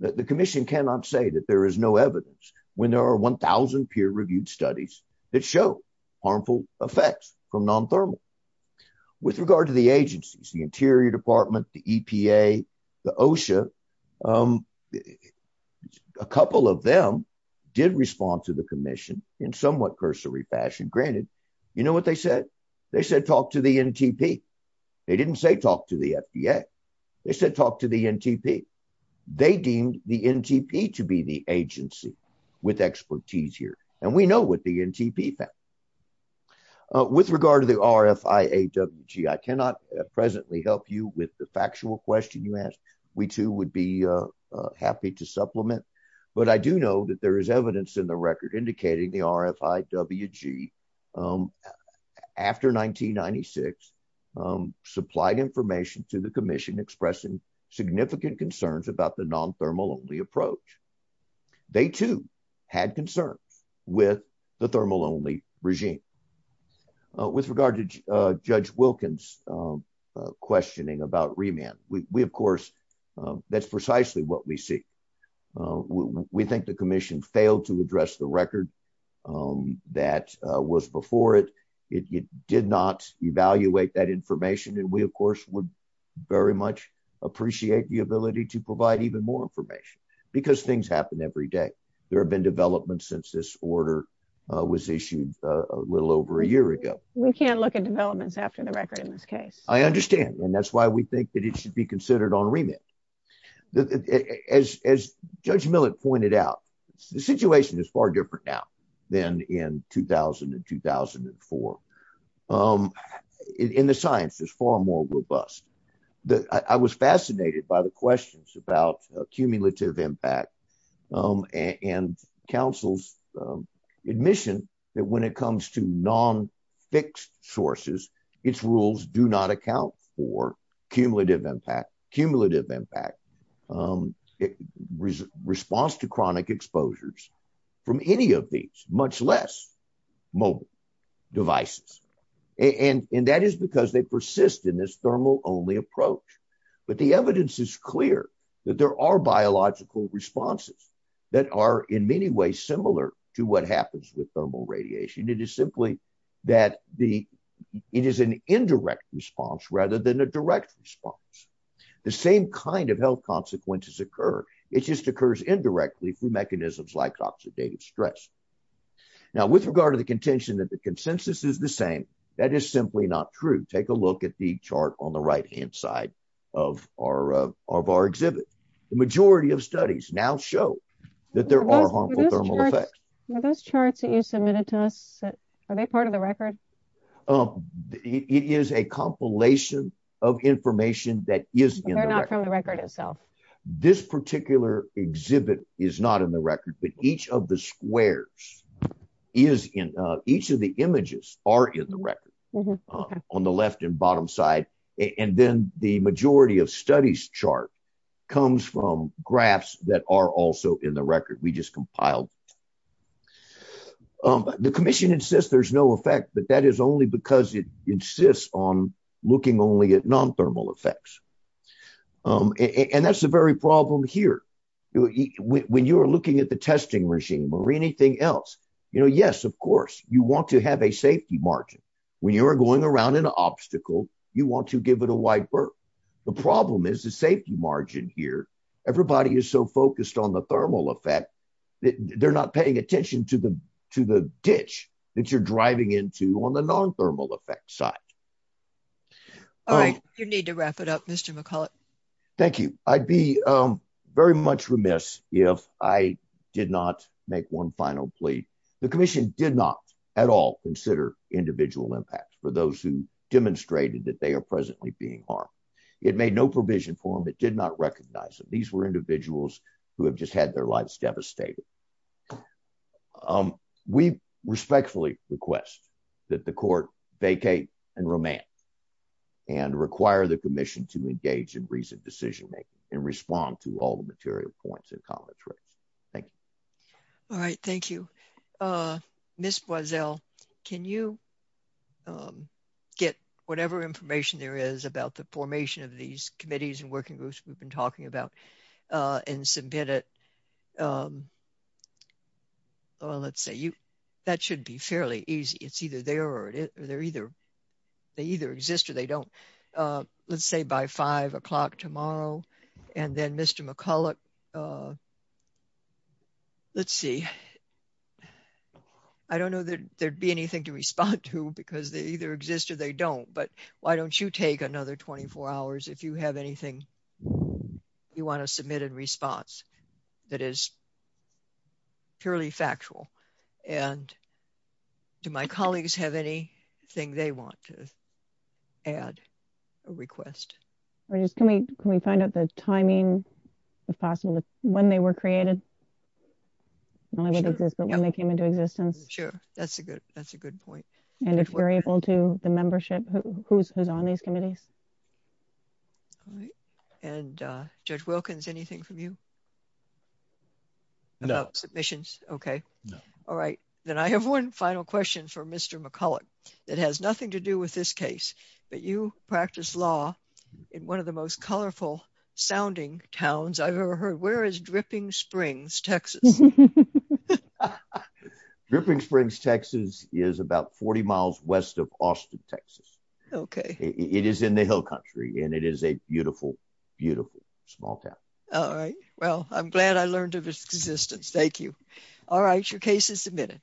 The commission cannot say that there is no evidence when there are 1,000 peer-reviewed studies that show harmful effects from non-thermal. With regard to the agencies, the Interior Department, the EPA, the OSHA, a couple of them did respond to the commission in somewhat cursory fashion. Granted, you know what they said? They said, talk to the NTP. They didn't say talk to the FDA. They said, NTP to be the agency with expertise here. And we know what the NTP found. With regard to the RFIAWG, I cannot presently help you with the factual question you asked. We, too, would be happy to supplement. But I do know that there is evidence in the record indicating the RFIAWG, after 1996, supplied information to the commission expressing significant concerns about the non-thermal-only approach. They, too, had concerns with the thermal-only regime. With regard to Judge Wilkins' questioning about remand, we, of course, that's precisely what we see. We think the commission failed to address the record that was before it. It did not evaluate that information. And we, of course, would very much appreciate the ability to provide even more information, because things happen every day. There have been developments since this order was issued a little over a year ago. We can't look at developments after the record in this case. I understand. And that's why we think that it should be considered on remand. As Judge Millett pointed out, the situation is far different now than in 2000 and 2004. And the science is far more robust. I was fascinated by the questions about cumulative impact and counsel's admission that when it comes to non-fixed sources, its rules do not account for cumulative impact. Response to chronic exposures from any of these, much less mobile devices. And that is because they persist in this thermal-only approach. But the evidence is clear that there are biological responses that are, in many ways, similar to what happens with thermal radiation. It is simply that it is an indirect response rather than a direct response. The same kind of health consequences occur. It just occurs indirectly through mechanisms like oxidative stress. Now, with regard to the contention that the consensus is the same, that is simply not true. Take a look at the chart on the right-hand side of our exhibit. The majority of studies now show that there are harmful thermal effects. Are those charts that you submitted to us, are they part of the record? It is a compilation of information that is in the record. They're not from the record itself? This particular exhibit is not in the record, but each of the squares, each of the images are in the record on the left and bottom side. And then the majority of studies chart comes from graphs that are also in the record we just compiled. The commission insists there's no effect, but that is only because it affects. And that's the very problem here. When you're looking at the testing regime or anything else, yes, of course, you want to have a safety margin. When you're going around an obstacle, you want to give it a wide berth. The problem is the safety margin here. Everybody is so focused on the thermal effect that they're not paying attention to the ditch that you're driving into on the non-thermal effect side. All right. You need to wrap it up, Mr. McCullough. Thank you. I'd be very much remiss if I did not make one final plea. The commission did not at all consider individual impacts for those who demonstrated that they are presently being harmed. It made no provision for them. It did not recognize them. These were individuals who have just had their lives devastated. We respectfully request that the court vacate and remand and require the commission to engage in recent decision-making and respond to all the material points and commentaries. Thank you. All right. Thank you. Ms. Boissel, can you get whatever information there is about the formation of these committees and working groups we've been talking about and submit it to the commission? Well, let's see. That should be fairly easy. It's either there or they either exist or they don't. Let's say by 5 o'clock tomorrow and then Mr. McCullough, let's see. I don't know that there'd be anything to respond to because they either exist or they don't, but why don't you take another 24 hours if you have anything you want to submit in response that is purely factual? Do my colleagues have anything they want to add or request? Can we find out the timing, if possible, when they were created? Not only did they exist, but when they came into existence? Sure. That's a good point. And if you're able to, the membership, who's on these committees? And Judge Wilkins, anything from you? No. About submissions? Okay. No. All right. Then I have one final question for Mr. McCullough that has nothing to do with this case, but you practice law in one of the most colorful sounding towns I've ever heard. Where is Dripping Springs, Texas? Dripping Springs, Texas is about 40 miles west of Austin, Texas. Okay. It is in the hill country and it is a beautiful, beautiful small town. All right. Well, I'm glad I learned of its existence. Thank you. All right. Your case is submitted.